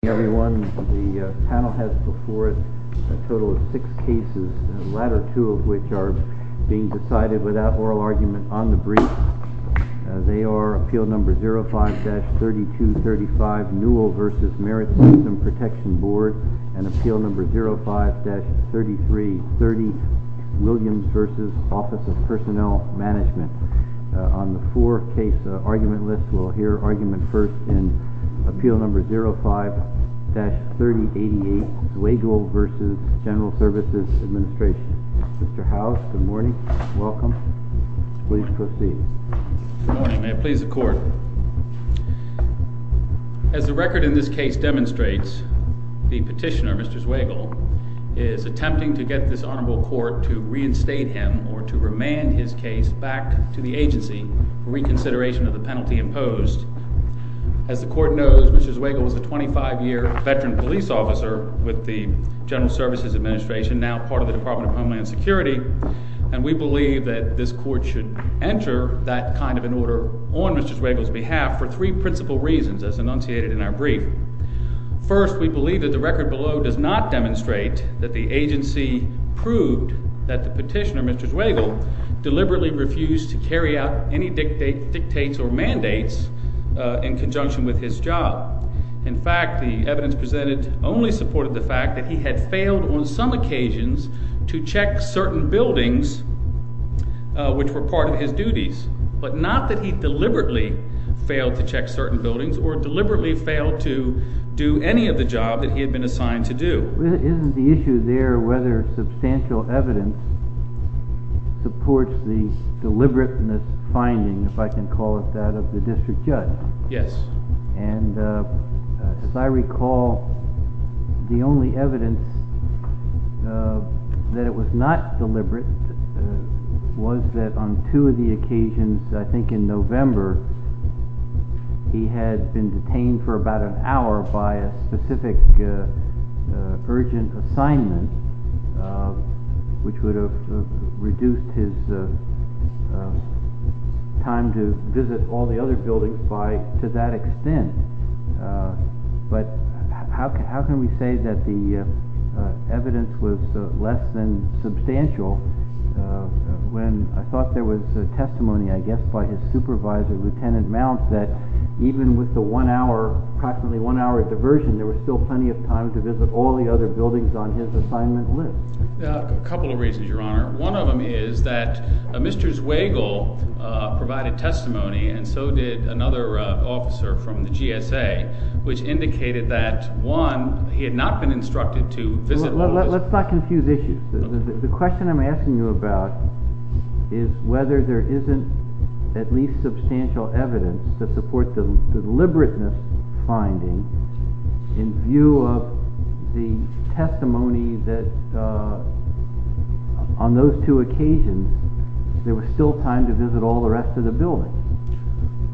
The panel has before it a total of six cases, the latter two of which are being decided without oral argument on the brief. They are Appeal No. 05-3235, Newell v. Merit System Protection Board, and Appeal No. 05-3330, Williams v. Office of Personnel Management. On the four-case argument list, we'll hear argument first in Appeal No. 05-3088, Zwagil v. General Services Administration. Mr. Howes, good morning. Welcome. Please proceed. Good morning. May it please the Court. As the record in this case demonstrates, the petitioner, Mr. Zwagil, is attempting to get this Honorable Court to reinstate him or to remand his case back to the agency for reconsideration of the penalty imposed. As the Court knows, Mr. Zwagil is a 25-year veteran police officer with the General Services Administration, now part of the Department of Homeland Security, and we believe that this Court should enter that kind of an order on Mr. Zwagil's behalf for three principal reasons as enunciated in our brief. First, we believe that the record below does not demonstrate that the agency proved that the petitioner, Mr. Zwagil, deliberately refused to carry out any dictates or mandates in conjunction with his job. In fact, the evidence presented only supported the fact that he had failed on some occasions to check certain buildings which were part of his duties, but not that he deliberately failed to check certain buildings or deliberately failed to do any of the job that he had been assigned to do. Isn't the issue there whether substantial evidence supports the deliberateness finding, if I can call it that, of the district judge? Yes. And as I recall, the only evidence that it was not deliberate was that on two of the occasions, I think in November, he had been detained for about an hour by a specific urgent assignment, which would have reduced his time to visit all the other buildings to that extent. But how can we say that the evidence was less than substantial when I thought there was testimony, I guess, by his supervisor, Lieutenant Mount, that even with the approximately one-hour diversion, there was still plenty of time to visit all the other buildings on his assignment list? A couple of reasons, Your Honor. One of them is that Mr. Zweigel provided testimony, and so did another officer from the GSA, which indicated that, one, he had not been instructed to visit all those— on those two occasions, there was still time to visit all the rest of the buildings.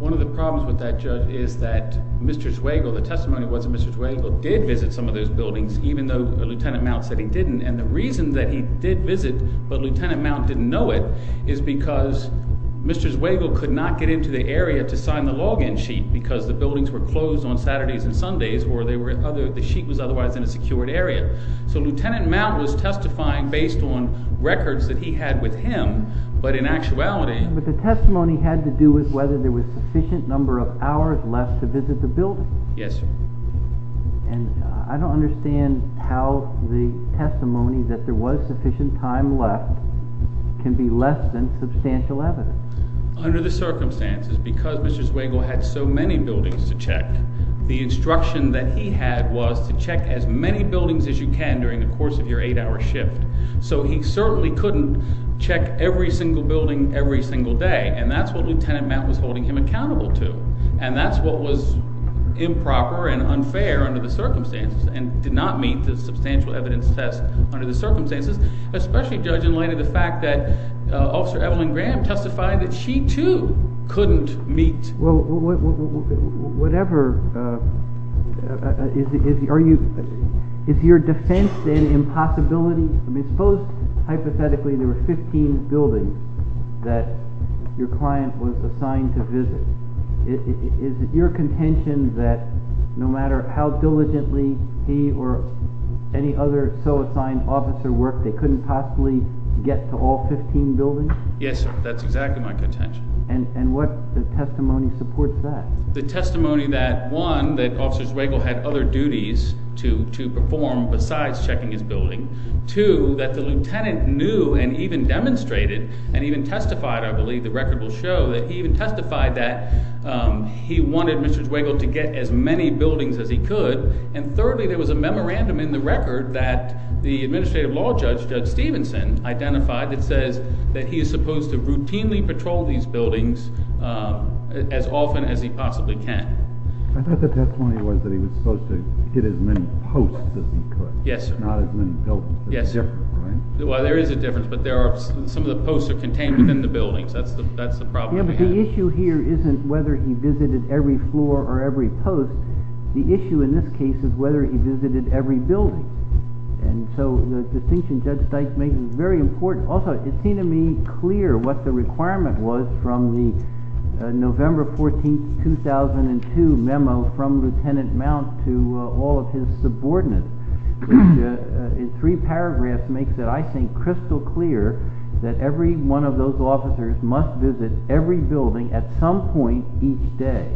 One of the problems with that, Judge, is that Mr. Zweigel, the testimony was that Mr. Zweigel did visit some of those buildings, even though Lieutenant Mount said he didn't. And the reason that he did visit but Lieutenant Mount didn't know it is because Mr. Zweigel could not get into the area to sign the log-in sheet, because the buildings were closed on Saturdays and Sundays, or the sheet was otherwise in a secured area. So Lieutenant Mount was testifying based on records that he had with him, but in actuality— But the testimony had to do with whether there was a sufficient number of hours left to visit the buildings. Yes, sir. And I don't understand how the testimony that there was sufficient time left can be less than substantial evidence. Under the circumstances, because Mr. Zweigel had so many buildings to check, the instruction that he had was to check as many buildings as you can during the course of your eight-hour shift. So he certainly couldn't check every single building every single day, and that's what Lieutenant Mount was holding him accountable to. And that's what was improper and unfair under the circumstances, and did not meet the substantial evidence test under the circumstances, especially, Judge, in light of the fact that Officer Evelyn Graham testified that she, too, couldn't meet— Well, whatever—is your defense, then, impossibility? I mean suppose, hypothetically, there were 15 buildings that your client was assigned to visit. Is it your contention that no matter how diligently he or any other so-assigned officer worked, they couldn't possibly get to all 15 buildings? Yes, sir. That's exactly my contention. And what testimony supports that? The testimony that, one, that Officer Zweigel had other duties to perform besides checking his building. Two, that the lieutenant knew and even demonstrated, and even testified, I believe, the record will show, that he even testified that he wanted Mr. Zweigel to get as many buildings as he could. And thirdly, there was a memorandum in the record that the administrative law judge, Judge Stevenson, identified that says that he is supposed to routinely patrol these buildings as often as he possibly can. I thought the testimony was that he was supposed to get as many posts as he could. Yes, sir. Not as many buildings. Yes, sir. Right? Well, there is a difference, but some of the posts are contained within the buildings. That's the problem we have. Yeah, but the issue here isn't whether he visited every floor or every post. The issue in this case is whether he visited every building. And so the distinction Judge Zweigel makes is very important. Also, it seemed to me clear what the requirement was from the November 14, 2002 memo from Lieutenant Mount to all of his subordinates. Which in three paragraphs makes it, I think, crystal clear that every one of those officers must visit every building at some point each day.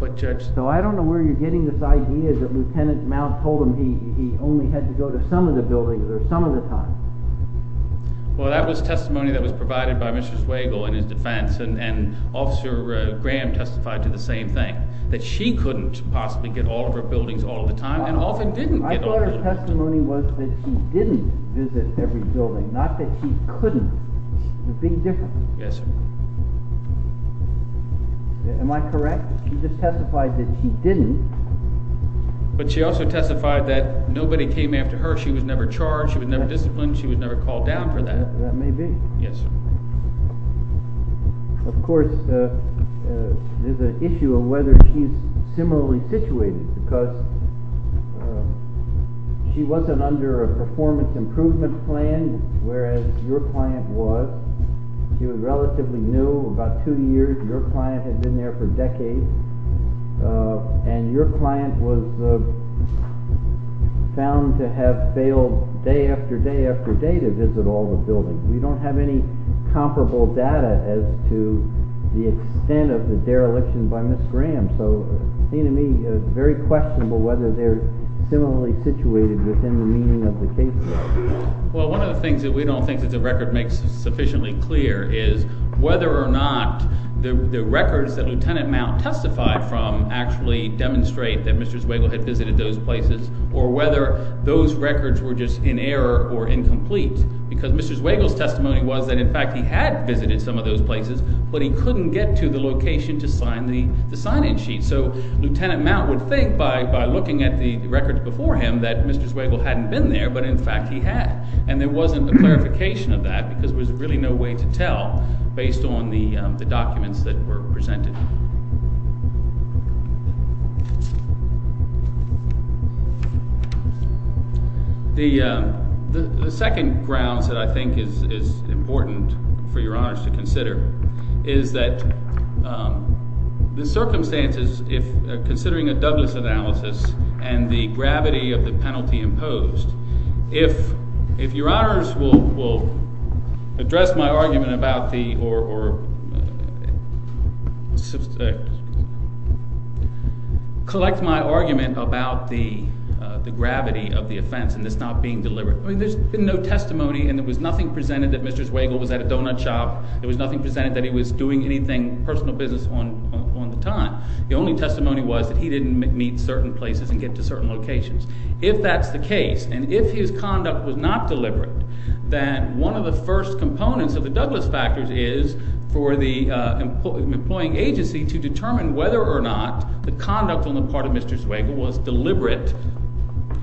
But Judge— So I don't know where you're getting this idea that Lieutenant Mount told him he only had to go to some of the buildings or some of the times. Well, that was testimony that was provided by Mr. Zweigel in his defense, and Officer Graham testified to the same thing, that she couldn't possibly get all of her buildings all of the time and often didn't get all of them. I thought her testimony was that she didn't visit every building, not that she couldn't. There's a big difference. Yes, sir. Am I correct? She just testified that she didn't. But she also testified that nobody came after her. She was never charged. She was never disciplined. She was never called down for that. That may be. Yes, sir. Of course, there's an issue of whether she's similarly situated, because she wasn't under a performance improvement plan, whereas your client was. She was relatively new, about two years. Your client had been there for decades, and your client was found to have failed day after day after day to visit all the buildings. We don't have any comparable data as to the extent of the dereliction by Ms. Graham, so it seems to me very questionable whether they're similarly situated within the meaning of the case. Well, one of the things that we don't think that the record makes sufficiently clear is whether or not the records that Lieutenant Mount testified from actually demonstrate that Mr. Zweigel had visited those places, or whether those records were just in error or incomplete. Because Mr. Zweigel's testimony was that, in fact, he had visited some of those places, but he couldn't get to the location to sign the sign-in sheet. So Lieutenant Mount would think by looking at the records before him that Mr. Zweigel hadn't been there, but in fact he had. And there wasn't a clarification of that because there was really no way to tell based on the documents that were presented. The second grounds that I think is important for Your Honors to consider is that the circumstances, considering a Douglas analysis and the gravity of the penalty imposed, if Your Honors will address my argument about the— Collect my argument about the gravity of the offense and this not being deliberate. I mean there's been no testimony, and there was nothing presented that Mr. Zweigel was at a donut shop. There was nothing presented that he was doing anything personal business on the time. The only testimony was that he didn't meet certain places and get to certain locations. If that's the case, and if his conduct was not deliberate, then one of the first components of the Douglas factors is for the employing agency to determine whether or not the conduct on the part of Mr. Zweigel was deliberate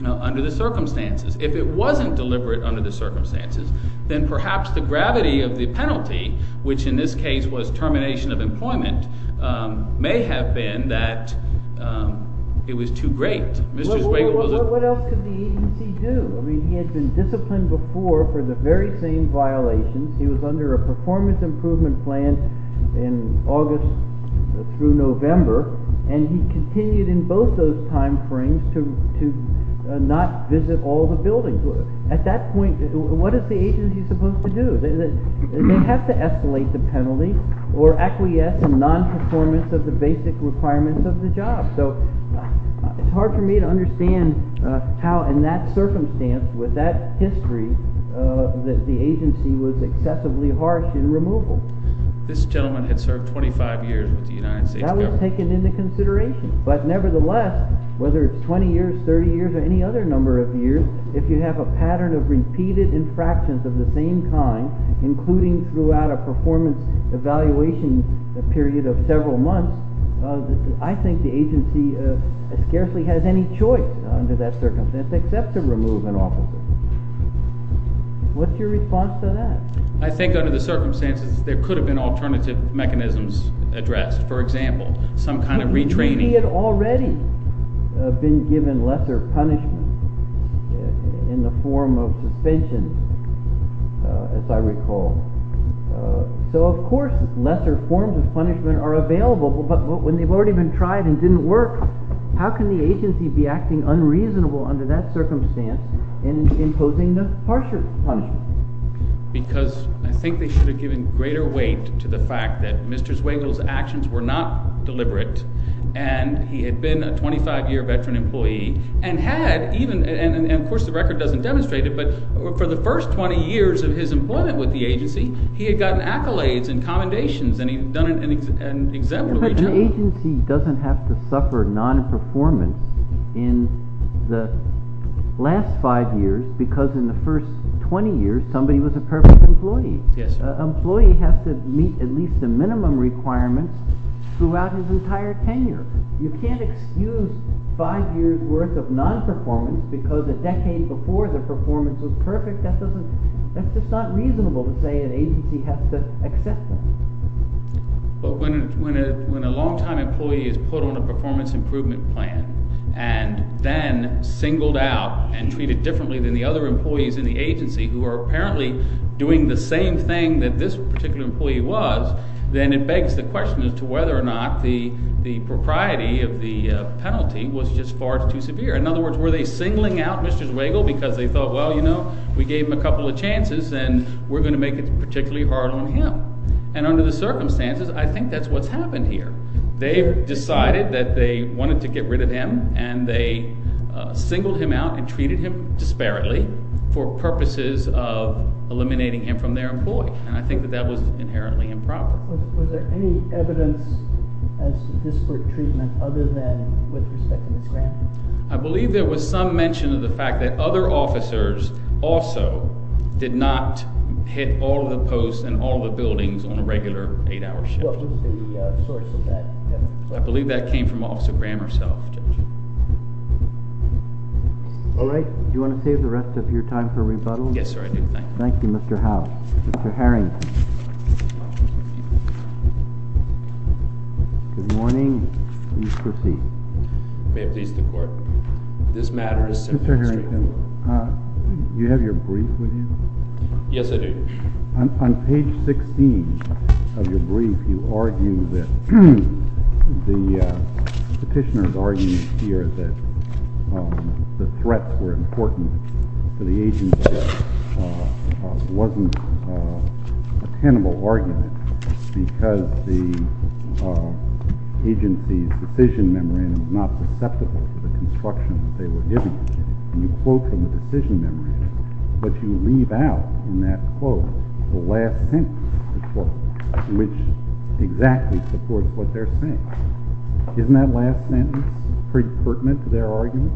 under the circumstances. If it wasn't deliberate under the circumstances, then perhaps the gravity of the penalty, which in this case was termination of employment, may have been that it was too great. What else could the agency do? I mean he had been disciplined before for the very same violations. He was under a performance improvement plan in August through November, and he continued in both those time frames to not visit all the buildings. At that point, what is the agency supposed to do? They have to escalate the penalty or acquiesce in nonperformance of the basic requirements of the job. It's hard for me to understand how in that circumstance, with that history, the agency was excessively harsh in removal. This gentleman had served 25 years with the United States government. That was taken into consideration, but nevertheless, whether it's 20 years, 30 years, or any other number of years, if you have a pattern of repeated infractions of the same kind, including throughout a performance evaluation period of several months, I think the agency scarcely has any choice under that circumstance except to remove an officer. What's your response to that? I think under the circumstances, there could have been alternative mechanisms addressed. For example, some kind of retraining. He had already been given lesser punishment in the form of suspension, as I recall. So, of course, lesser forms of punishment are available, but when they've already been tried and didn't work, how can the agency be acting unreasonable under that circumstance and imposing the harsher punishment? Because I think they should have given greater weight to the fact that Mr. Zweigel's actions were not deliberate. And he had been a 25-year veteran employee and had even – and, of course, the record doesn't demonstrate it, but for the first 20 years of his employment with the agency, he had gotten accolades and commendations, and he had done an exemplary job. But the agency doesn't have to suffer nonperformance in the last five years because in the first 20 years, somebody was a perfect employee. Yes. An employee has to meet at least the minimum requirements throughout his entire tenure. You can't excuse five years' worth of nonperformance because a decade before the performance was perfect. That's just not reasonable to say an agency has to accept that. But when a longtime employee is put on a performance improvement plan and then singled out and treated differently than the other employees in the agency who are apparently doing the same thing that this particular employee was, then it begs the question as to whether or not the propriety of the penalty was just far too severe. In other words, were they singling out Mr. Zweigel because they thought, well, we gave him a couple of chances, and we're going to make it particularly hard on him. And under the circumstances, I think that's what's happened here. They decided that they wanted to get rid of him, and they singled him out and treated him disparately for purposes of eliminating him from their employ. And I think that that was inherently improper. Was there any evidence as to disparate treatment other than with respect to Mr. Graham? I believe there was some mention of the fact that other officers also did not hit all of the posts and all of the buildings on a regular eight-hour shift. What was the source of that evidence? I believe that came from Officer Graham herself. All right. Do you want to save the rest of your time for rebuttal? Yes, sir, I do. Thank you. Thank you, Mr. Howell. Mr. Harrington. Good morning. Please proceed. May it please the Court. This matter is sent to the district court. Mr. Harrington, do you have your brief with you? Yes, I do. On page 16 of your brief, you argue that the petitioner's argument here that the threats were important to the agency wasn't a tenable argument because the agency's decision memorandum is not susceptible to the construction that they were giving. And you quote from the decision memorandum, but you leave out in that quote the last sentence of the quote, which exactly supports what they're saying. Isn't that last sentence pretty pertinent to their argument?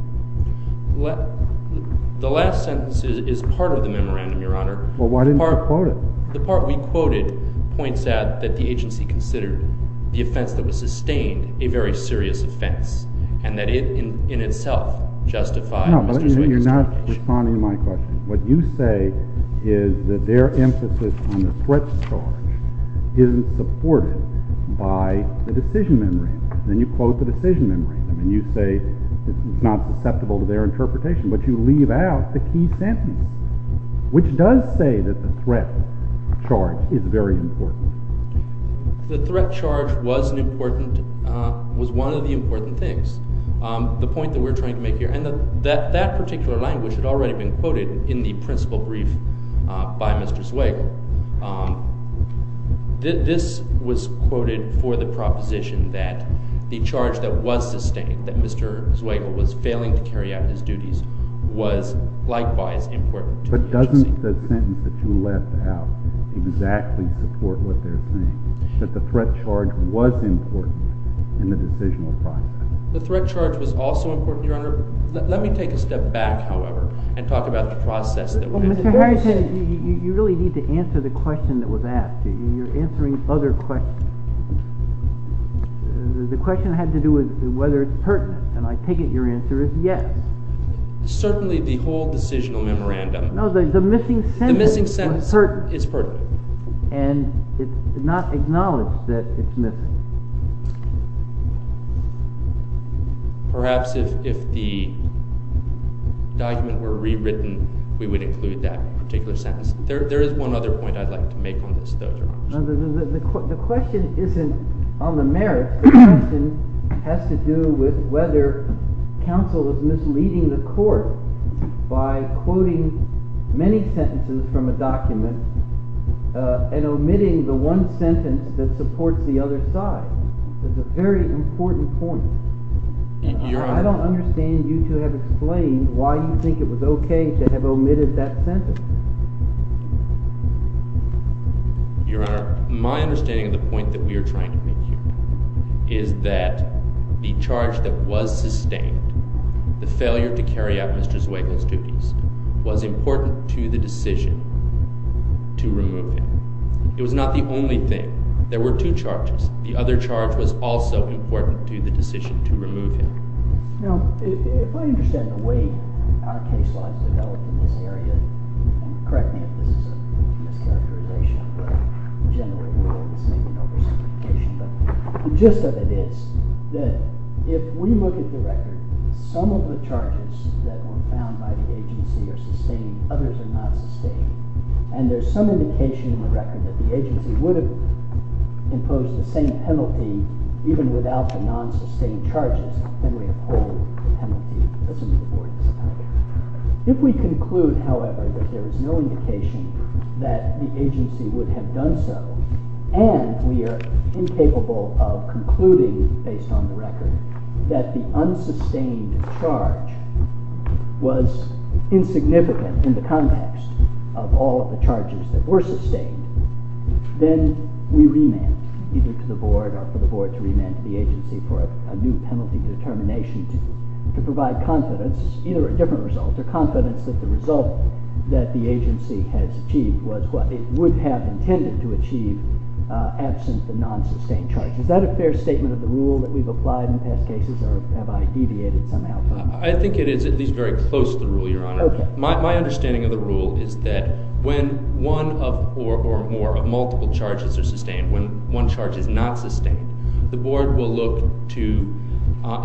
The last sentence is part of the memorandum, Your Honor. Well, why didn't you quote it? The part we quoted points out that the agency considered the offense that was sustained a very serious offense and that it, in itself, justified— No, but you're not responding to my question. What you say is that their emphasis on the threat charge isn't supported by the decision memorandum. Then you quote the decision memorandum, and you say it's not susceptible to their interpretation. But you leave out the key sentence, which does say that the threat charge is very important. The threat charge was one of the important things, the point that we're trying to make here. And that particular language had already been quoted in the principal brief by Mr. Zweigel. This was quoted for the proposition that the charge that was sustained, that Mr. Zweigel was failing to carry out his duties, was likewise important to the agency. But doesn't the sentence that you left out exactly support what they're saying, that the threat charge was important in the decisional process? The threat charge was also important, Your Honor. Let me take a step back, however, and talk about the process that— Well, Mr. Harrington, you really need to answer the question that was asked. You're answering other questions. The question had to do with whether it's pertinent. And I take it your answer is yes. Certainly the whole decisional memorandum— No, the missing sentence is pertinent. And it's not acknowledged that it's missing. Perhaps if the document were rewritten, we would include that particular sentence. There is one other point I'd like to make on this, though, Your Honor. The question isn't on the merits. The question has to do with whether counsel is misleading the court by quoting many sentences from a document and omitting the one sentence that supports the other side. That's a very important point. I don't understand you to have explained why you think it was okay to have omitted that sentence. Your Honor, my understanding of the point that we are trying to make here is that the charge that was sustained, the failure to carry out Mr. Zweiglin's duties, was important to the decision to remove him. It was not the only thing. There were two charges. The other charge was also important to the decision to remove him. Now, if I understand the way our case law is developed in this area—and correct me if this is a mischaracterization, but generally we're all the same, you know, there's simplification— but the gist of it is that if we look at the record, some of the charges that were found by the agency are sustained, others are not sustained, and there's some indication in the record that the agency would have imposed the same penalty even without the non-sustained charges, then we uphold the penalty. If we conclude, however, that there is no indication that the agency would have done so, and we are incapable of concluding, based on the record, that the unsustained charge was insignificant in the context of all of the charges that were sustained, then we remand either to the board or for the board to remand to the agency for a new penalty determination to provide confidence, either a different result or confidence that the result that the agency has achieved was what it would have intended to achieve absent the non-sustained charge. Is that a fair statement of the rule that we've applied in past cases, or have I deviated somehow from it? I think it is at least very close to the rule, Your Honor. Okay. My understanding of the rule is that when one or more of multiple charges are sustained, when one charge is not sustained, the board will look to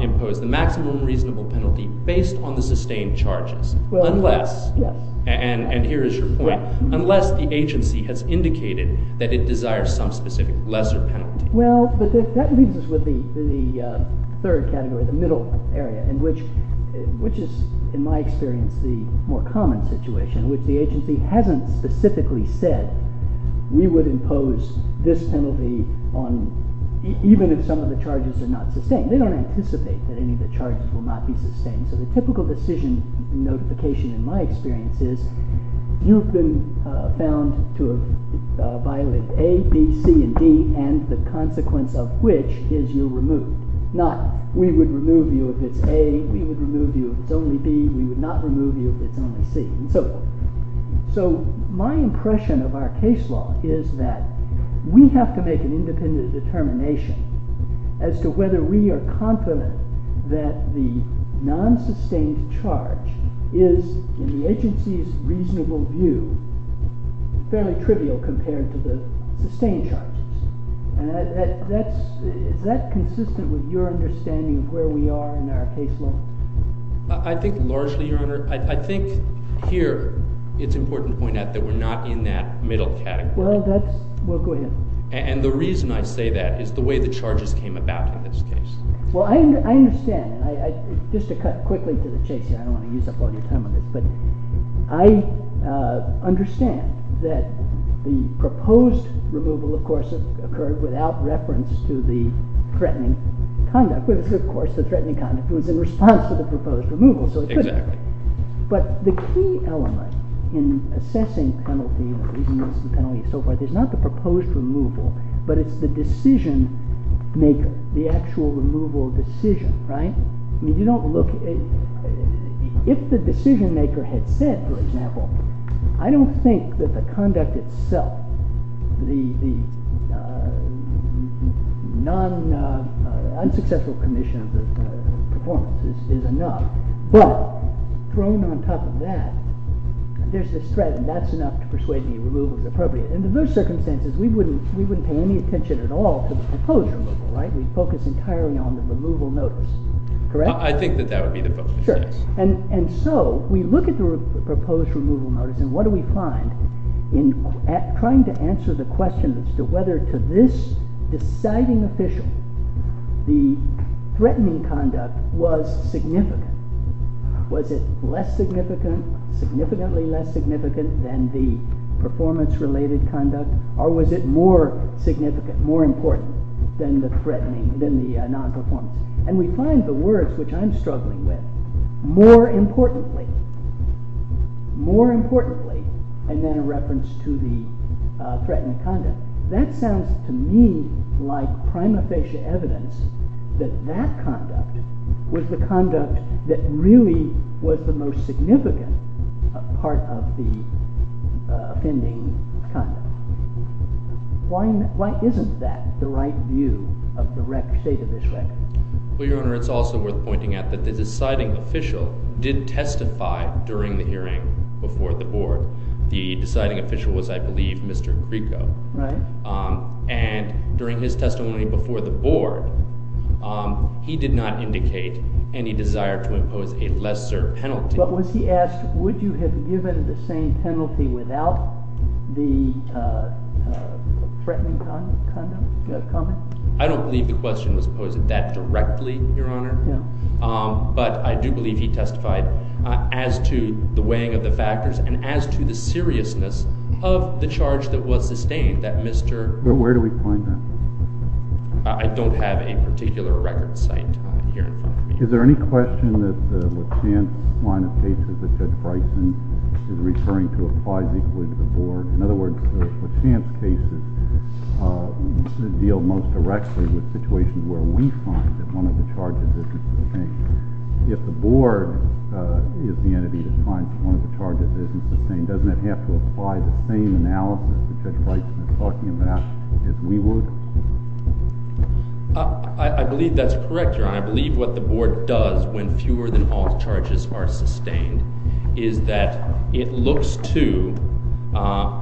impose the maximum reasonable penalty based on the sustained charges. Unless— Yes. And here is your point. Unless the agency has indicated that it desires some specific lesser penalty. Well, that leaves us with the third category, the middle area, which is, in my experience, the more common situation, which the agency hasn't specifically said we would impose this penalty even if some of the charges are not sustained. They don't anticipate that any of the charges will not be sustained. So the typical decision notification in my experience is you've been found to have violated A, B, C, and D, and the consequence of which is you're removed, not we would remove you if it's A, we would remove you if it's only B, we would not remove you if it's only C. So my impression of our case law is that we have to make an independent determination as to whether we are confident that the non-sustained charge is, in the agency's reasonable view, fairly trivial compared to the sustained charges. Is that consistent with your understanding of where we are in our case law? I think largely, Your Honor. I think here it's important to point out that we're not in that middle category. Well, that's… Well, go ahead. And the reason I say that is the way the charges came about in this case. Well, I understand. Just to cut quickly to the chase here, I don't want to use up all your time on this, but I understand that the proposed removal, of course, occurred without reference to the threatening conduct, which, of course, the threatening conduct was in response to the proposed removal. Exactly. But the key element in assessing penalty, the reasons for the penalty and so forth, is not the proposed removal, but it's the decision-maker, the actual removal decision, right? I mean, you don't look… If the decision-maker had said, for example, I don't think that the conduct itself, the unsuccessful commission of the performance is enough, but thrown on top of that, there's this threat and that's enough to persuade me removal is appropriate. In those circumstances, we wouldn't pay any attention at all to the proposed removal, right? We'd focus entirely on the removal notice, correct? I think that that would be the focus, yes. And so, we look at the proposed removal notice and what do we find in trying to answer the question as to whether to this deciding official the threatening conduct was significant. Was it less significant, significantly less significant than the performance-related conduct, or was it more significant, more important than the non-performance? And we find the words, which I'm struggling with, more importantly, more importantly, and then a reference to the threatened conduct. That sounds to me like prima facie evidence that that conduct was the conduct that really was the most significant part of the offending conduct. Why isn't that the right view of the state of this record? Well, Your Honor, it's also worth pointing out that the deciding official did testify during the hearing before the board. The deciding official was, I believe, Mr. Creco. Right. And during his testimony before the board, he did not indicate any desire to impose a lesser penalty. But was he asked, would you have given the same penalty without the threatening conduct comment? I don't believe the question was posed that directly, Your Honor. But I do believe he testified as to the weighing of the factors and as to the seriousness of the charge that was sustained, that Mr. But where do we find that? I don't have a particular record site here. Is there any question that the Lachance line of cases that Judge Bryson is referring to applies equally to the board? In other words, the Lachance cases deal most directly with situations where we find that one of the charges isn't sustained. If the board is the entity that finds one of the charges isn't sustained, doesn't it have to apply the same analysis that Judge Bryson is talking about as we would? I believe that's correct, Your Honor. I believe what the board does when fewer than all charges are sustained is that it looks to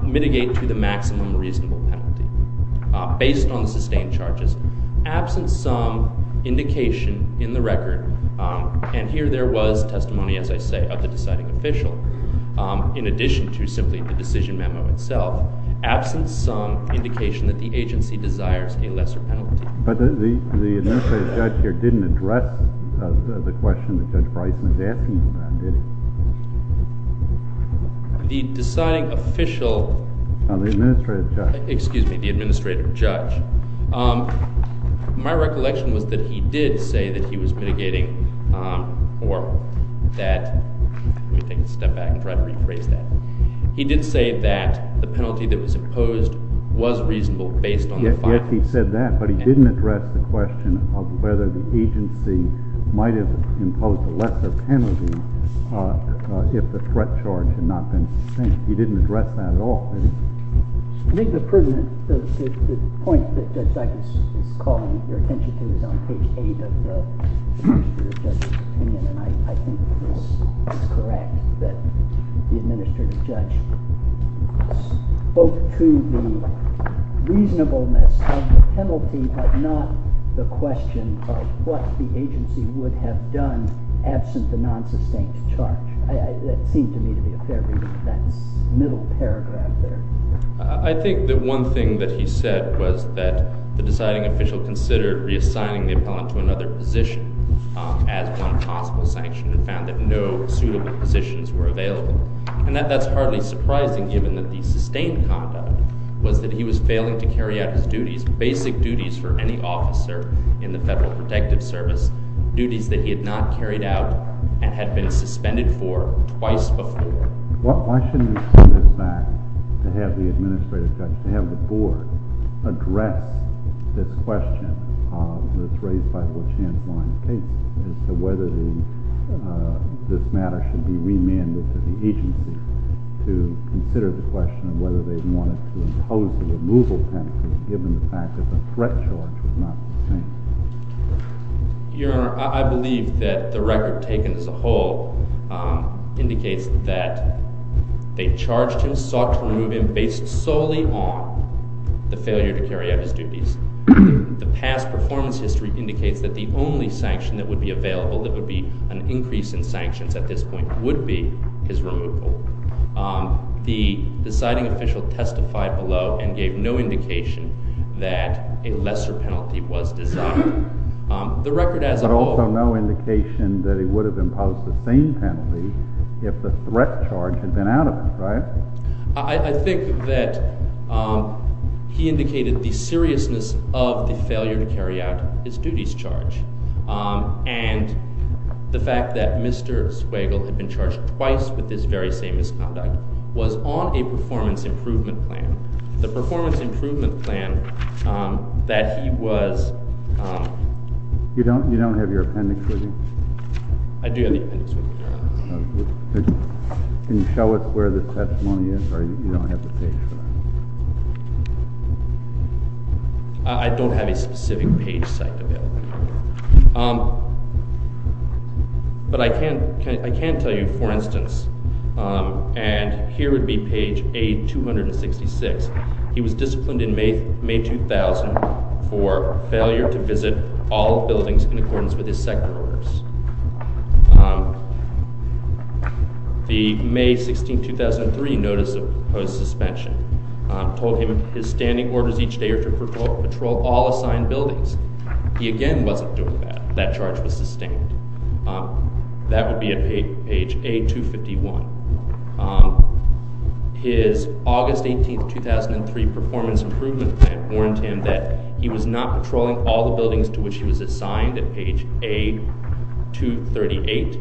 mitigate to the maximum reasonable penalty. Based on the sustained charges, absent some indication in the record, and here there was testimony, as I say, of the deciding official, in addition to simply the decision memo itself, absent some indication that the agency desires a lesser penalty. But the administrative judge here didn't address the question that Judge Bryson was asking about, did he? The deciding official— The administrative judge. Excuse me, the administrative judge. My recollection was that he did say that he was mitigating or that—let me take a step back and try to rephrase that. He did say that the penalty that was imposed was reasonable based on the findings. Yet he said that, but he didn't address the question of whether the agency might have imposed a lesser penalty if the threat charge had not been sustained. He didn't address that at all. I think the point that Judge Dikus is calling your attention to is on page 8 of the administrative judge's opinion, and I think it's correct that the administrative judge spoke to the reasonableness of the penalty, but not the question of what the agency would have done absent the non-sustained charge. That seemed to me to be a fair reading of that middle paragraph there. I think that one thing that he said was that the deciding official considered reassigning the appellant to another position as one possible sanction and found that no suitable positions were available. And that's hardly surprising given that the sustained conduct was that he was failing to carry out his duties, basic duties for any officer in the Federal Protective Service, duties that he had not carried out and had been suspended for twice before. Why shouldn't we see this back to have the administrative judge, to have the board, address this question that's raised by the LaChanze line of cases as to whether this matter should be remanded to the agency to consider the question of whether they wanted to impose the removal penalty given the fact that the threat charge was not sustained? Your Honor, I believe that the record taken as a whole indicates that they charged him, sought to remove him, based solely on the failure to carry out his duties. The past performance history indicates that the only sanction that would be available that would be an increase in sanctions at this point would be his removal. The deciding official testified below and gave no indication that a lesser penalty was designed. The record as a whole— But also no indication that he would have imposed the same penalty if the threat charge had been out of him, right? I think that he indicated the seriousness of the failure to carry out his duties charge. And the fact that Mr. Swagel had been charged twice with this very same misconduct was on a performance improvement plan. The performance improvement plan that he was— You don't have your appendix with you? I do have the appendix with me, Your Honor. Can you show us where the testimony is? Or you don't have the page for that? I don't have a specific page set for that. But I can tell you, for instance, and here would be page A266. He was disciplined in May 2000 for failure to visit all buildings in accordance with his sector orders. The May 16, 2003 notice of his suspension told him his standing orders each day are to patrol all assigned buildings. He again wasn't doing that. That charge was sustained. That would be at page A251. His August 18, 2003 performance improvement plan warned him that he was not patrolling all the buildings to which he was assigned at page A238.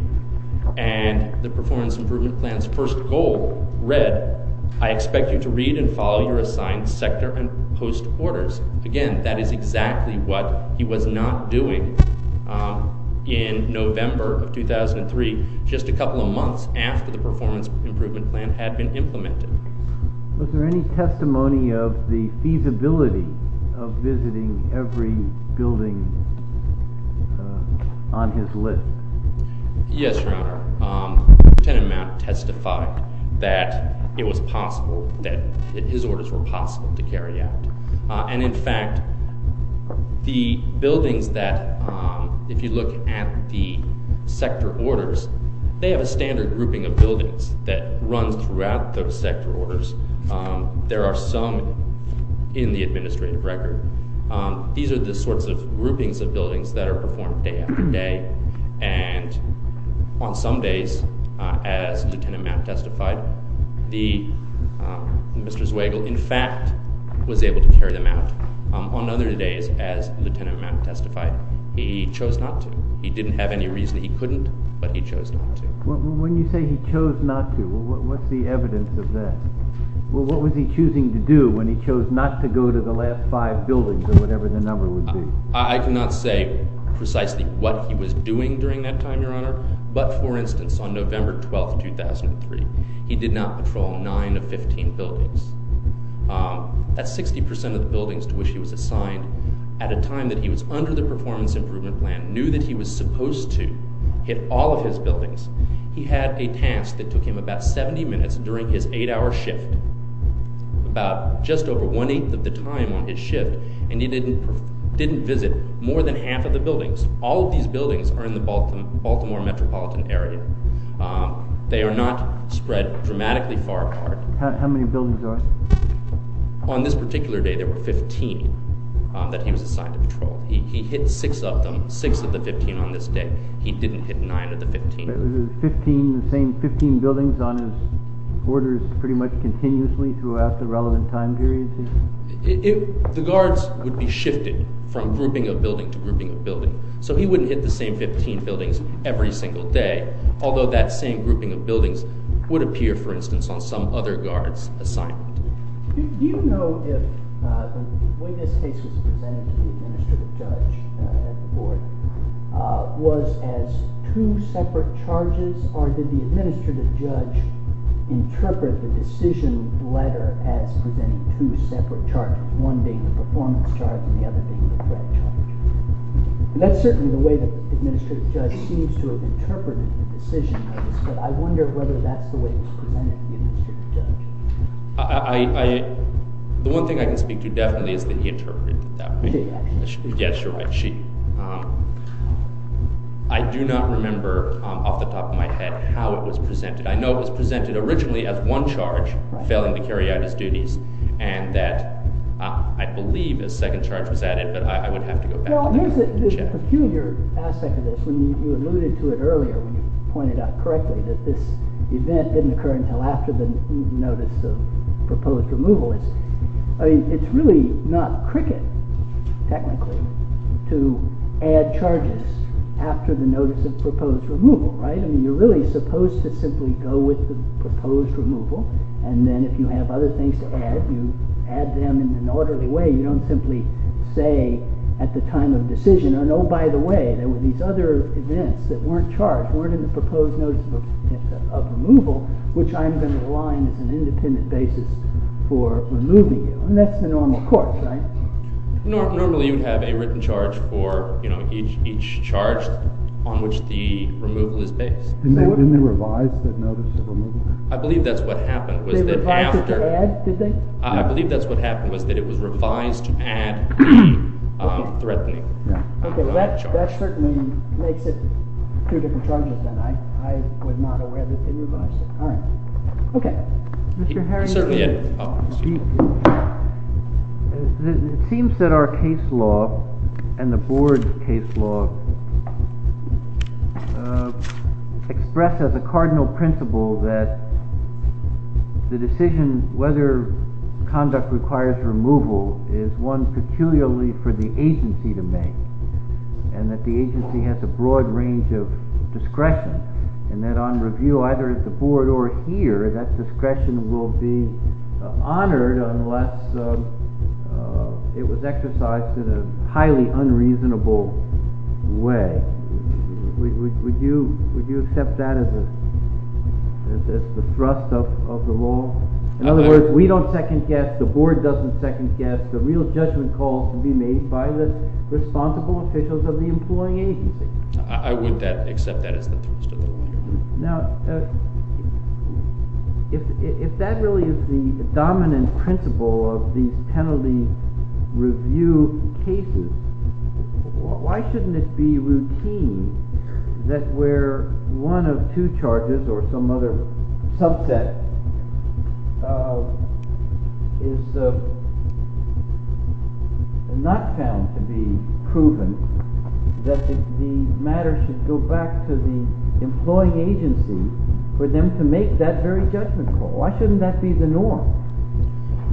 And the performance improvement plan's first goal read, I expect you to read and follow your assigned sector and post orders. Again, that is exactly what he was not doing in November of 2003, just a couple of months after the performance improvement plan had been implemented. Was there any testimony of the feasibility of visiting every building on his list? Yes, Your Honor. Lieutenant Mount testified that it was possible, that his orders were possible to carry out. And in fact, the buildings that, if you look at the sector orders, they have a standard grouping of buildings that runs throughout those sector orders. There are some in the administrative record. These are the sorts of groupings of buildings that are performed day after day. And on some days, as Lieutenant Mount testified, Mr. Zweigel, in fact, was able to carry them out. On other days, as Lieutenant Mount testified, he chose not to. He didn't have any reason he couldn't, but he chose not to. When you say he chose not to, what's the evidence of that? What was he choosing to do when he chose not to go to the last five buildings or whatever the number would be? I cannot say precisely what he was doing during that time, Your Honor, but, for instance, on November 12, 2003, he did not patrol 9 of 15 buildings. That's 60% of the buildings to which he was assigned at a time that he was under the performance improvement plan, knew that he was supposed to hit all of his buildings. He had a task that took him about 70 minutes during his 8-hour shift, about just over one-eighth of the time on his shift, and he didn't visit more than half of the buildings. All of these buildings are in the Baltimore metropolitan area. They are not spread dramatically far apart. How many buildings are there? On this particular day, there were 15 that he was assigned to patrol. He hit 6 of them, 6 of the 15 on this day. He didn't hit 9 of the 15. But it was the same 15 buildings on his orders pretty much continuously throughout the relevant time period? The guards would be shifted from grouping of building to grouping of building, so he wouldn't hit the same 15 buildings every single day, although that same grouping of buildings would appear, for instance, on some other guard's assignment. Do you know if the way this case was presented to the administrative judge at the board was as two separate charges, or did the administrative judge interpret the decision letter as presenting two separate charges, one being the performance charge and the other being the threat charge? And that's certainly the way the administrative judge seems to have interpreted the decision letters, but I wonder whether that's the way it was presented to the administrative judge. The one thing I can speak to definitely is that he interpreted it that way. Yes, you're right. I do not remember off the top of my head how it was presented. I know it was presented originally as one charge, failing to carry out his duties, and that I believe a second charge was added, but I would have to go back and check. There's a peculiar aspect of this. You alluded to it earlier when you pointed out correctly that this event didn't occur until after the notice of proposed removal. It's really not cricket, technically, to add charges after the notice of proposed removal. You're really supposed to simply go with the proposed removal, and then if you have other things to add, you add them in an orderly way. You don't simply say at the time of decision, oh, by the way, there were these other events that weren't charged, weren't in the proposed notice of removal, which I'm going to align as an independent basis for removing it. And that's the normal course, right? Normally, you would have a written charge for each charge on which the removal is based. Didn't they revise the notice of removal? I believe that's what happened. They revised it to add, did they? I believe that's what happened, was that it was revised to add the threatening charge. Okay, well, that certainly makes it two different charges, then. I was not aware that they revised it. All right. Okay. Mr. Harris? Certainly, yeah. It seems that our case law and the board's case law express as a cardinal principle that the decision, whether conduct requires removal, is one peculiarly for the agency to make and that the agency has a broad range of discretion and that on review, either at the board or here, that discretion will be honored unless it was exercised in a highly unreasonable way. Would you accept that as the thrust of the law? In other words, we don't second-guess, the board doesn't second-guess, the real judgment call can be made by the responsible officials of the employing agency. I would accept that as the thrust of the law. Now, if that really is the dominant principle of these penalty review cases, why shouldn't it be routine that where one of two charges or some other subset is not found to be proven that the matter should go back to the employing agency for them to make that very judgment call? Why shouldn't that be the norm?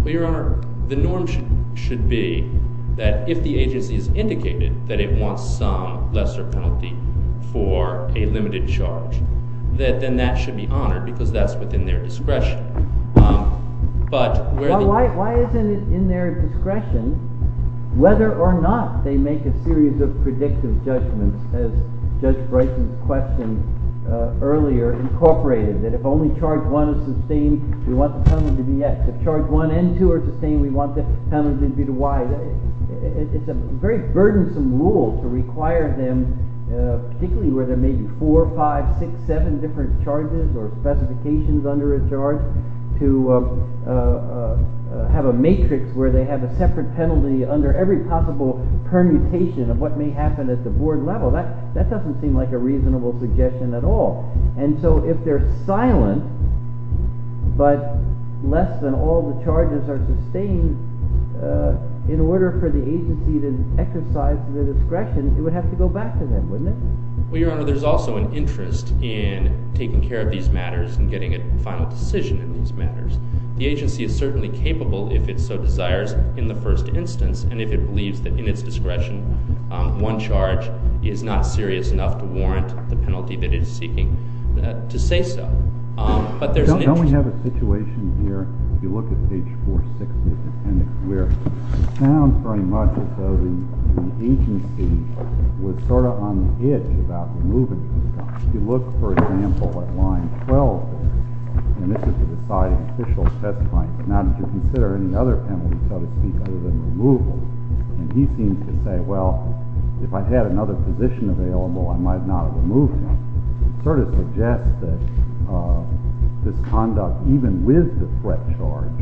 Well, Your Honor, the norm should be that if the agency has indicated that it wants some lesser penalty for a limited charge, then that should be honored because that's within their discretion. Why isn't it in their discretion whether or not they make a series of predictive judgments as Judge Bryson's question earlier incorporated, that if only charge one is sustained, we want the penalty to be X. If charge one and two are sustained, we want the penalty to be Y. It's a very burdensome rule to require them, particularly where there may be four, five, six, seven different charges or specifications under a charge, to have a matrix where they have a separate penalty under every possible permutation of what may happen at the board level. That doesn't seem like a reasonable suggestion at all. And so if they're silent, but less than all the charges are sustained, in order for the agency to exercise their discretion, it would have to go back to them, wouldn't it? Well, Your Honor, there's also an interest in taking care of these matters and getting a final decision in these matters. The agency is certainly capable if it so desires in the first instance and if it believes that in its discretion one charge is not serious enough to warrant the penalty that it is seeking to say so. Don't we have a situation here, if you look at page 460 of the appendix, where it sounds very much as though the agency was sort of on the edge about removing something. If you look, for example, at line 12, and this is the deciding official's testimony, now did you consider any other penalties, so to speak, other than removal? And he seems to say, well, if I had another position available, I might not have removed him. It sort of suggests that this conduct, even with the threat charge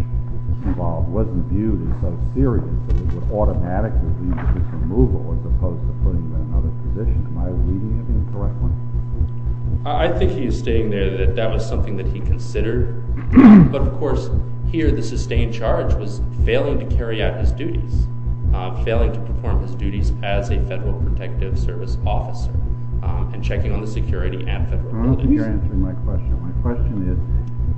involved, wasn't viewed as so serious that it would automatically be removal as opposed to putting him in another position. Am I reading it incorrectly? I think he is stating there that that was something that he considered. But, of course, here the sustained charge was failing to carry out his duties, failing to perform his duties as a Federal Protective Service officer and checking on the security and federal duties. Your Honor, you're answering my question. My question is,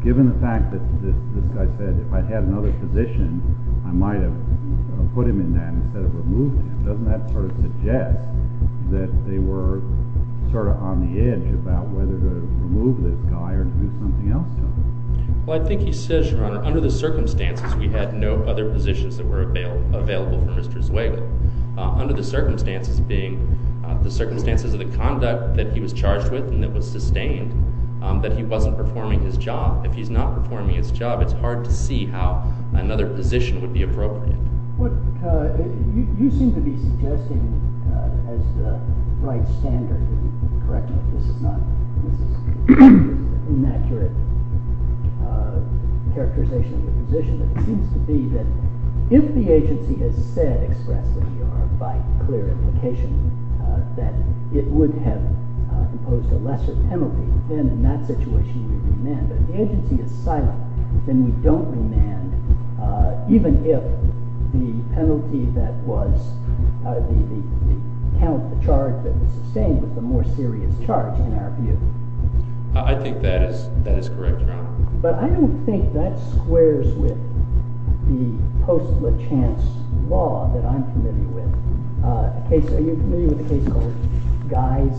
given the fact that this guy said that if I had another position, I might have put him in that instead of removed him, doesn't that sort of suggest that they were sort of on the edge about whether to remove this guy or do something else to him? Well, I think he says, Your Honor, under the circumstances, we had no other positions that were available for Mr. Zweigle. Under the circumstances being the circumstances of the conduct that he was charged with and that was sustained, that he wasn't performing his job. If he's not performing his job, it's hard to see how another position would be appropriate. Well, you seem to be suggesting as the right standard, if you can correct me if this is not an inaccurate characterization of the position, that it seems to be that if the agency has said expressly, Your Honor, by clear implication, that it would have imposed a lesser penalty, then in that situation you would demand that if the agency is silent, then we don't demand, even if the penalty that was, the charge that was sustained was a more serious charge in our view. I think that is correct, Your Honor. But I don't think that squares with the post-Lachance law that I'm familiar with. Are you familiar with a case called Guy's,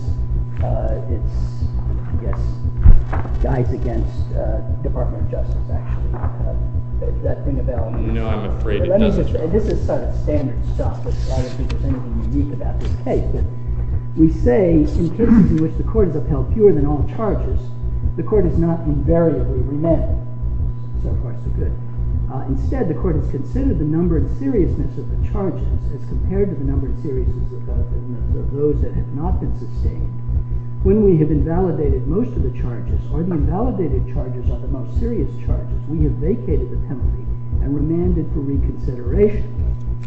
I guess, Guy's against Department of Justice, actually. Is that thing available? No, I'm afraid it doesn't. This is sort of standard stuff. I don't think there's anything unique about this case. We say, in cases in which the court is upheld fewer than all charges, the court is not invariably remanded. So far, so good. Instead, the court has considered the number and seriousness of the charges as compared to the number and seriousness of those that have not been sustained. When we have invalidated most of the charges, or the invalidated charges are the most serious charges, we have vacated the penalty and remanded for reconsideration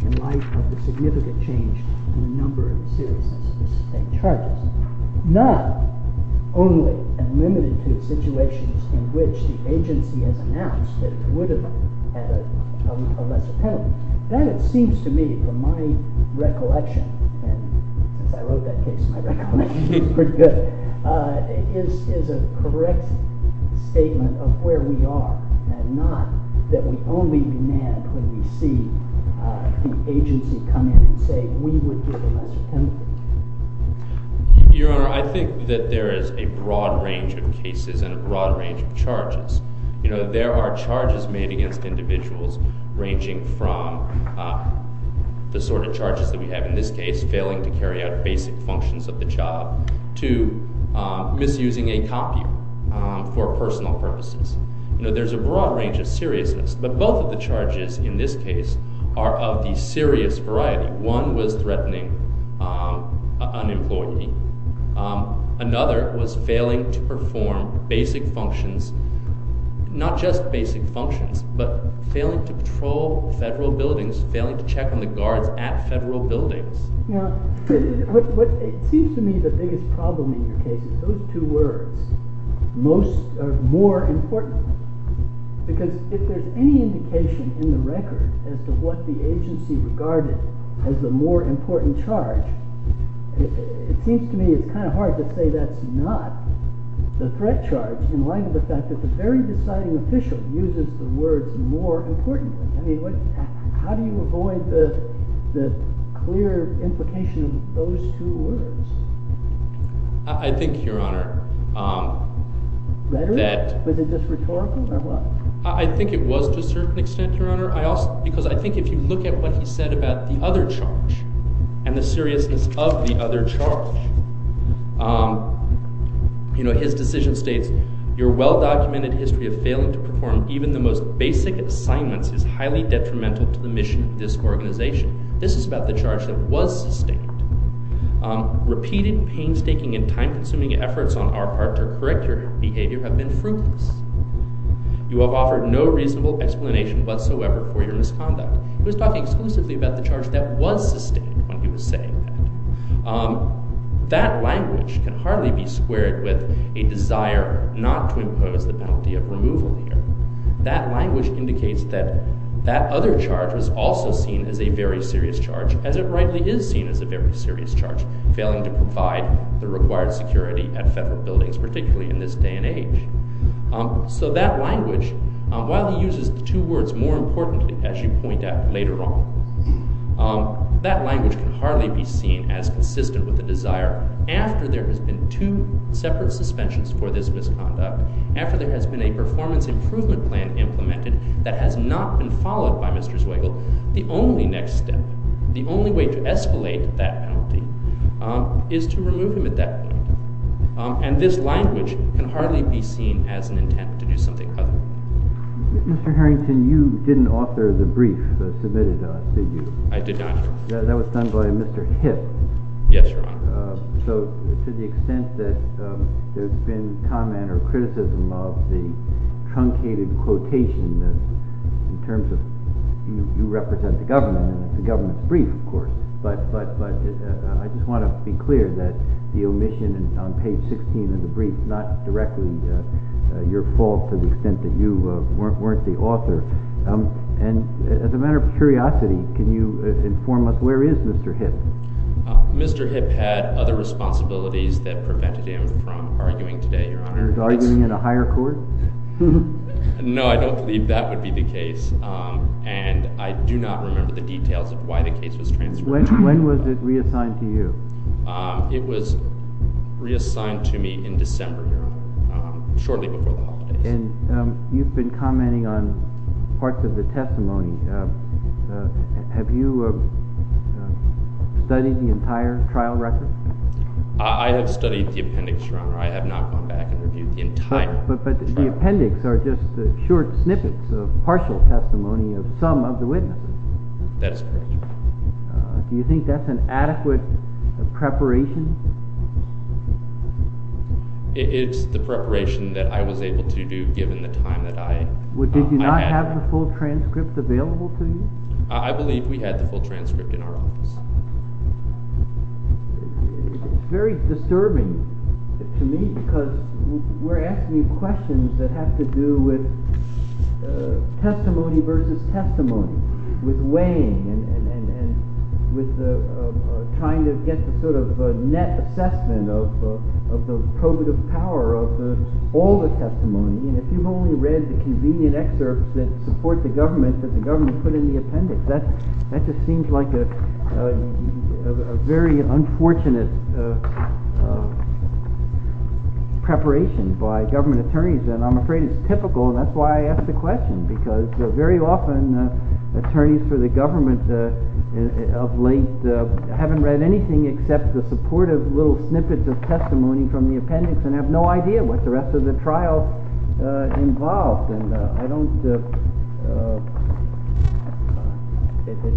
in light of the significant change in the number and seriousness of the sustained charges. Not only and limited to situations in which the agency has announced that it would have had a lesser penalty. That, it seems to me, from my recollection, and as I wrote that case, my recollection is pretty good, is a correct statement of where we are, and not that we only demand when we see the agency come in and say we would give a lesser penalty. Your Honor, I think that there is a broad range of cases and a broad range of charges. There are charges made against individuals ranging from the sort of charges that we have in this case, failing to carry out basic functions of the job, to misusing a copier for personal purposes. There's a broad range of seriousness, but both of the charges in this case are of the serious variety. One was threatening an employee. Another was failing to perform basic functions, not just basic functions, but failing to patrol federal buildings, failing to check on the guards at federal buildings. It seems to me the biggest problem in your case is those two words, more important. Because if there's any indication in the record as to what the agency regarded as the more important charge, it seems to me it's kind of hard to say that's not the threat charge in light of the fact that the very deciding official uses the word more importantly. I mean, how do you avoid the clear implication of those two words? I think, Your Honor, that... Rhetoric? Was it just rhetorical, or what? I think it was to a certain extent, Your Honor, because I think if you look at what he said about the other charge and the seriousness of the other charge, you know, his decision states, Your well-documented history of failing to perform even the most basic assignments is highly detrimental to the mission of this organization. This is about the charge that was sustained. Repeated painstaking and time-consuming efforts on our part to correct your behavior have been fruitless. You have offered no reasonable explanation whatsoever for your misconduct. He was talking exclusively about the charge that was sustained when he was saying that. That language can hardly be squared with a desire not to impose the penalty of removal here. That language indicates that that other charge was also seen as a very serious charge, as it rightly is seen as a very serious charge, failing to provide the required security at federal buildings, particularly in this day and age. So that language, while he uses the two words more importantly, as you point out later on, that language can hardly be seen as consistent with the desire after there has been two separate suspensions for this misconduct, after there has been a performance improvement plan implemented that has not been followed by Mr. Zweigel, the only next step, the only way to escalate that penalty, is to remove him at that point. And this language can hardly be seen as an intent to do something other. Mr. Harrington, you didn't author the brief that was submitted to you. I did not. That was done by Mr. Hipp. Yes, Your Honor. So to the extent that there's been comment or criticism of the truncated quotation in terms of you represent the government, and it's a government brief, of course, but I just want to be clear that the omission on page 16 of the brief is not directly your fault to the extent that you weren't the author. And as a matter of curiosity, can you inform us where is Mr. Hipp? Mr. Hipp had other responsibilities that prevented him from arguing today, Your Honor. He was arguing in a higher court? No, I don't believe that would be the case, and I do not remember the details of why the case was transferred. When was it reassigned to you? It was reassigned to me in December, Your Honor, shortly before the holidays. And you've been commenting on parts of the testimony. Have you studied the entire trial record? I have studied the appendix, Your Honor. I have not gone back and reviewed the entire trial. But the appendix are just short snippets of partial testimony of some of the witnesses. That is correct, Your Honor. Do you think that's an adequate preparation? It's the preparation that I was able to do given the time that I had. Did you not have the full transcript available to you? I believe we had the full transcript in our office. It's very disturbing to me because we're asking you questions that have to do with testimony versus testimony, with weighing and with trying to get the sort of net assessment of the probative power of all the testimony. And if you've only read the convenient excerpts that support the government, that the government put in the appendix, that just seems like a very unfortunate preparation by government attorneys. And I'm afraid it's typical, and that's why I ask the question. Because very often, attorneys for the government of late haven't read anything except the supportive little snippets of testimony from the appendix and have no idea what the rest of the trial involves.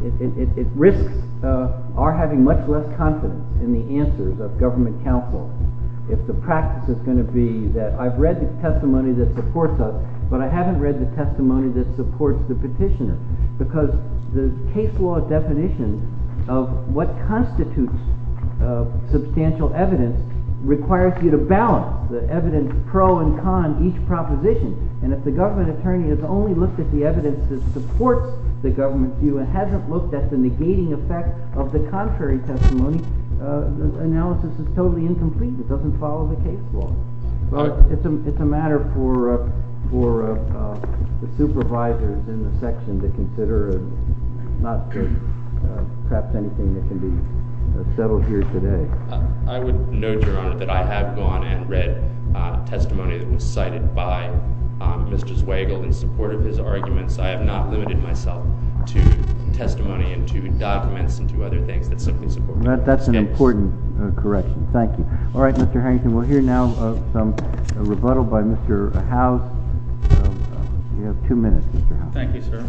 It risks our having much less confidence in the answers of government counsel if the practice is going to be that I've read the testimony that supports us, but I haven't read the testimony that supports the petitioner. Because the case law definition of what constitutes substantial evidence requires you to balance the evidence pro and con of each proposition. And if the government attorney has only looked at the evidence that supports the government view and hasn't looked at the negating effect of the contrary testimony, the analysis is totally incomplete. It doesn't follow the case law. It's a matter for the supervisors in the section to consider, not just perhaps anything that can be settled here today. I would note, Your Honor, that I have gone and read testimony that was cited by Mr. Zweigel in support of his arguments. I have not limited myself to testimony and to documents and to other things that simply support it. That's an important correction. Thank you. All right, Mr. Harrington, we'll hear now a rebuttal by Mr. Howes. You have two minutes, Mr. Howes. Thank you, sir.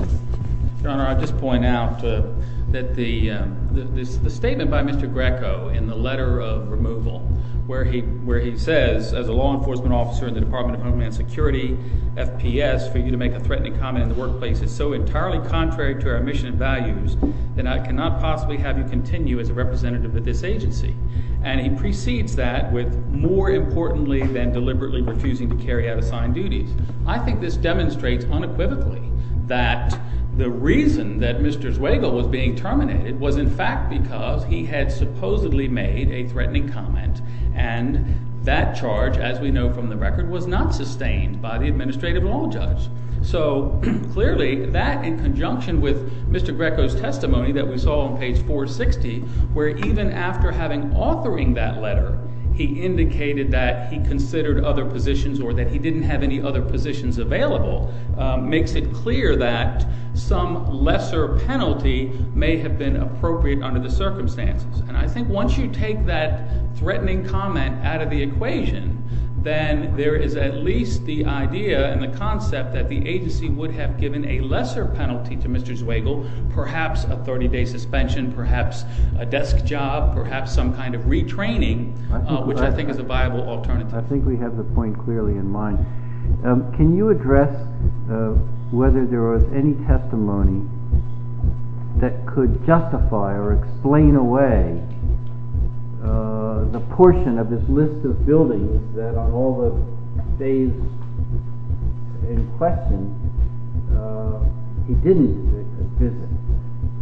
Your Honor, I'll just point out that the statement by Mr. Greco in the letter of removal where he says, as a law enforcement officer in the Department of Homeland Security, FPS, for you to make a threatening comment in the workplace is so entirely contrary to our mission and values that I cannot possibly have you continue as a representative of this agency. And he precedes that with more importantly than deliberately refusing to carry out assigned duties. I think this demonstrates unequivocally that the reason that Mr. Zweigel was being terminated was in fact because he had supposedly made a threatening comment and that charge, as we know from the record, was not sustained by the administrative law judge. So, clearly, that in conjunction with Mr. Greco's testimony that we saw on page 460 where even after having authoring that letter, he indicated that he considered other positions or that he didn't have any other positions available makes it clear that some lesser penalty may have been appropriate under the circumstances. And I think once you take that threatening comment out of the equation, then there is at least the idea and the concept that the agency would have given a lesser penalty to Mr. Zweigel, perhaps a 30-day suspension, perhaps a desk job, perhaps some kind of retraining, which I think is a viable alternative. I think we have the point clearly in mind. Can you address whether there was any testimony that could justify or explain away the portion of this list of buildings that on all the days in question he didn't visit?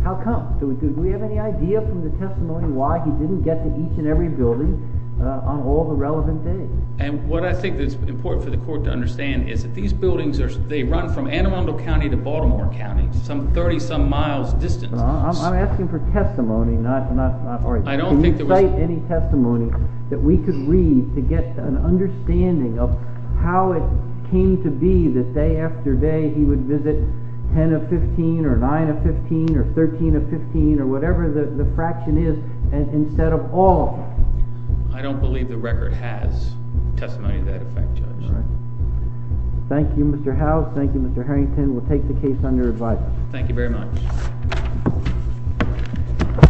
How come? Do we have any idea from the testimony why he didn't get to each and every building on all the relevant days? And what I think that's important for the court to understand is that these buildings, they run from Anne Arundel County to Baltimore County, some 30-some miles distance. I'm asking for testimony. Can you cite any testimony that we could read to get an understanding of how it came to be that day after day he would visit 10 of 15 or 9 of 15 or 13 of 15 or whatever the fraction is instead of all. I don't believe the record has testimony to that effect, Judge. Thank you, Mr. Howes. Thank you, Mr. Harrington. We'll take the case on your advice. Thank you very much. Thank you.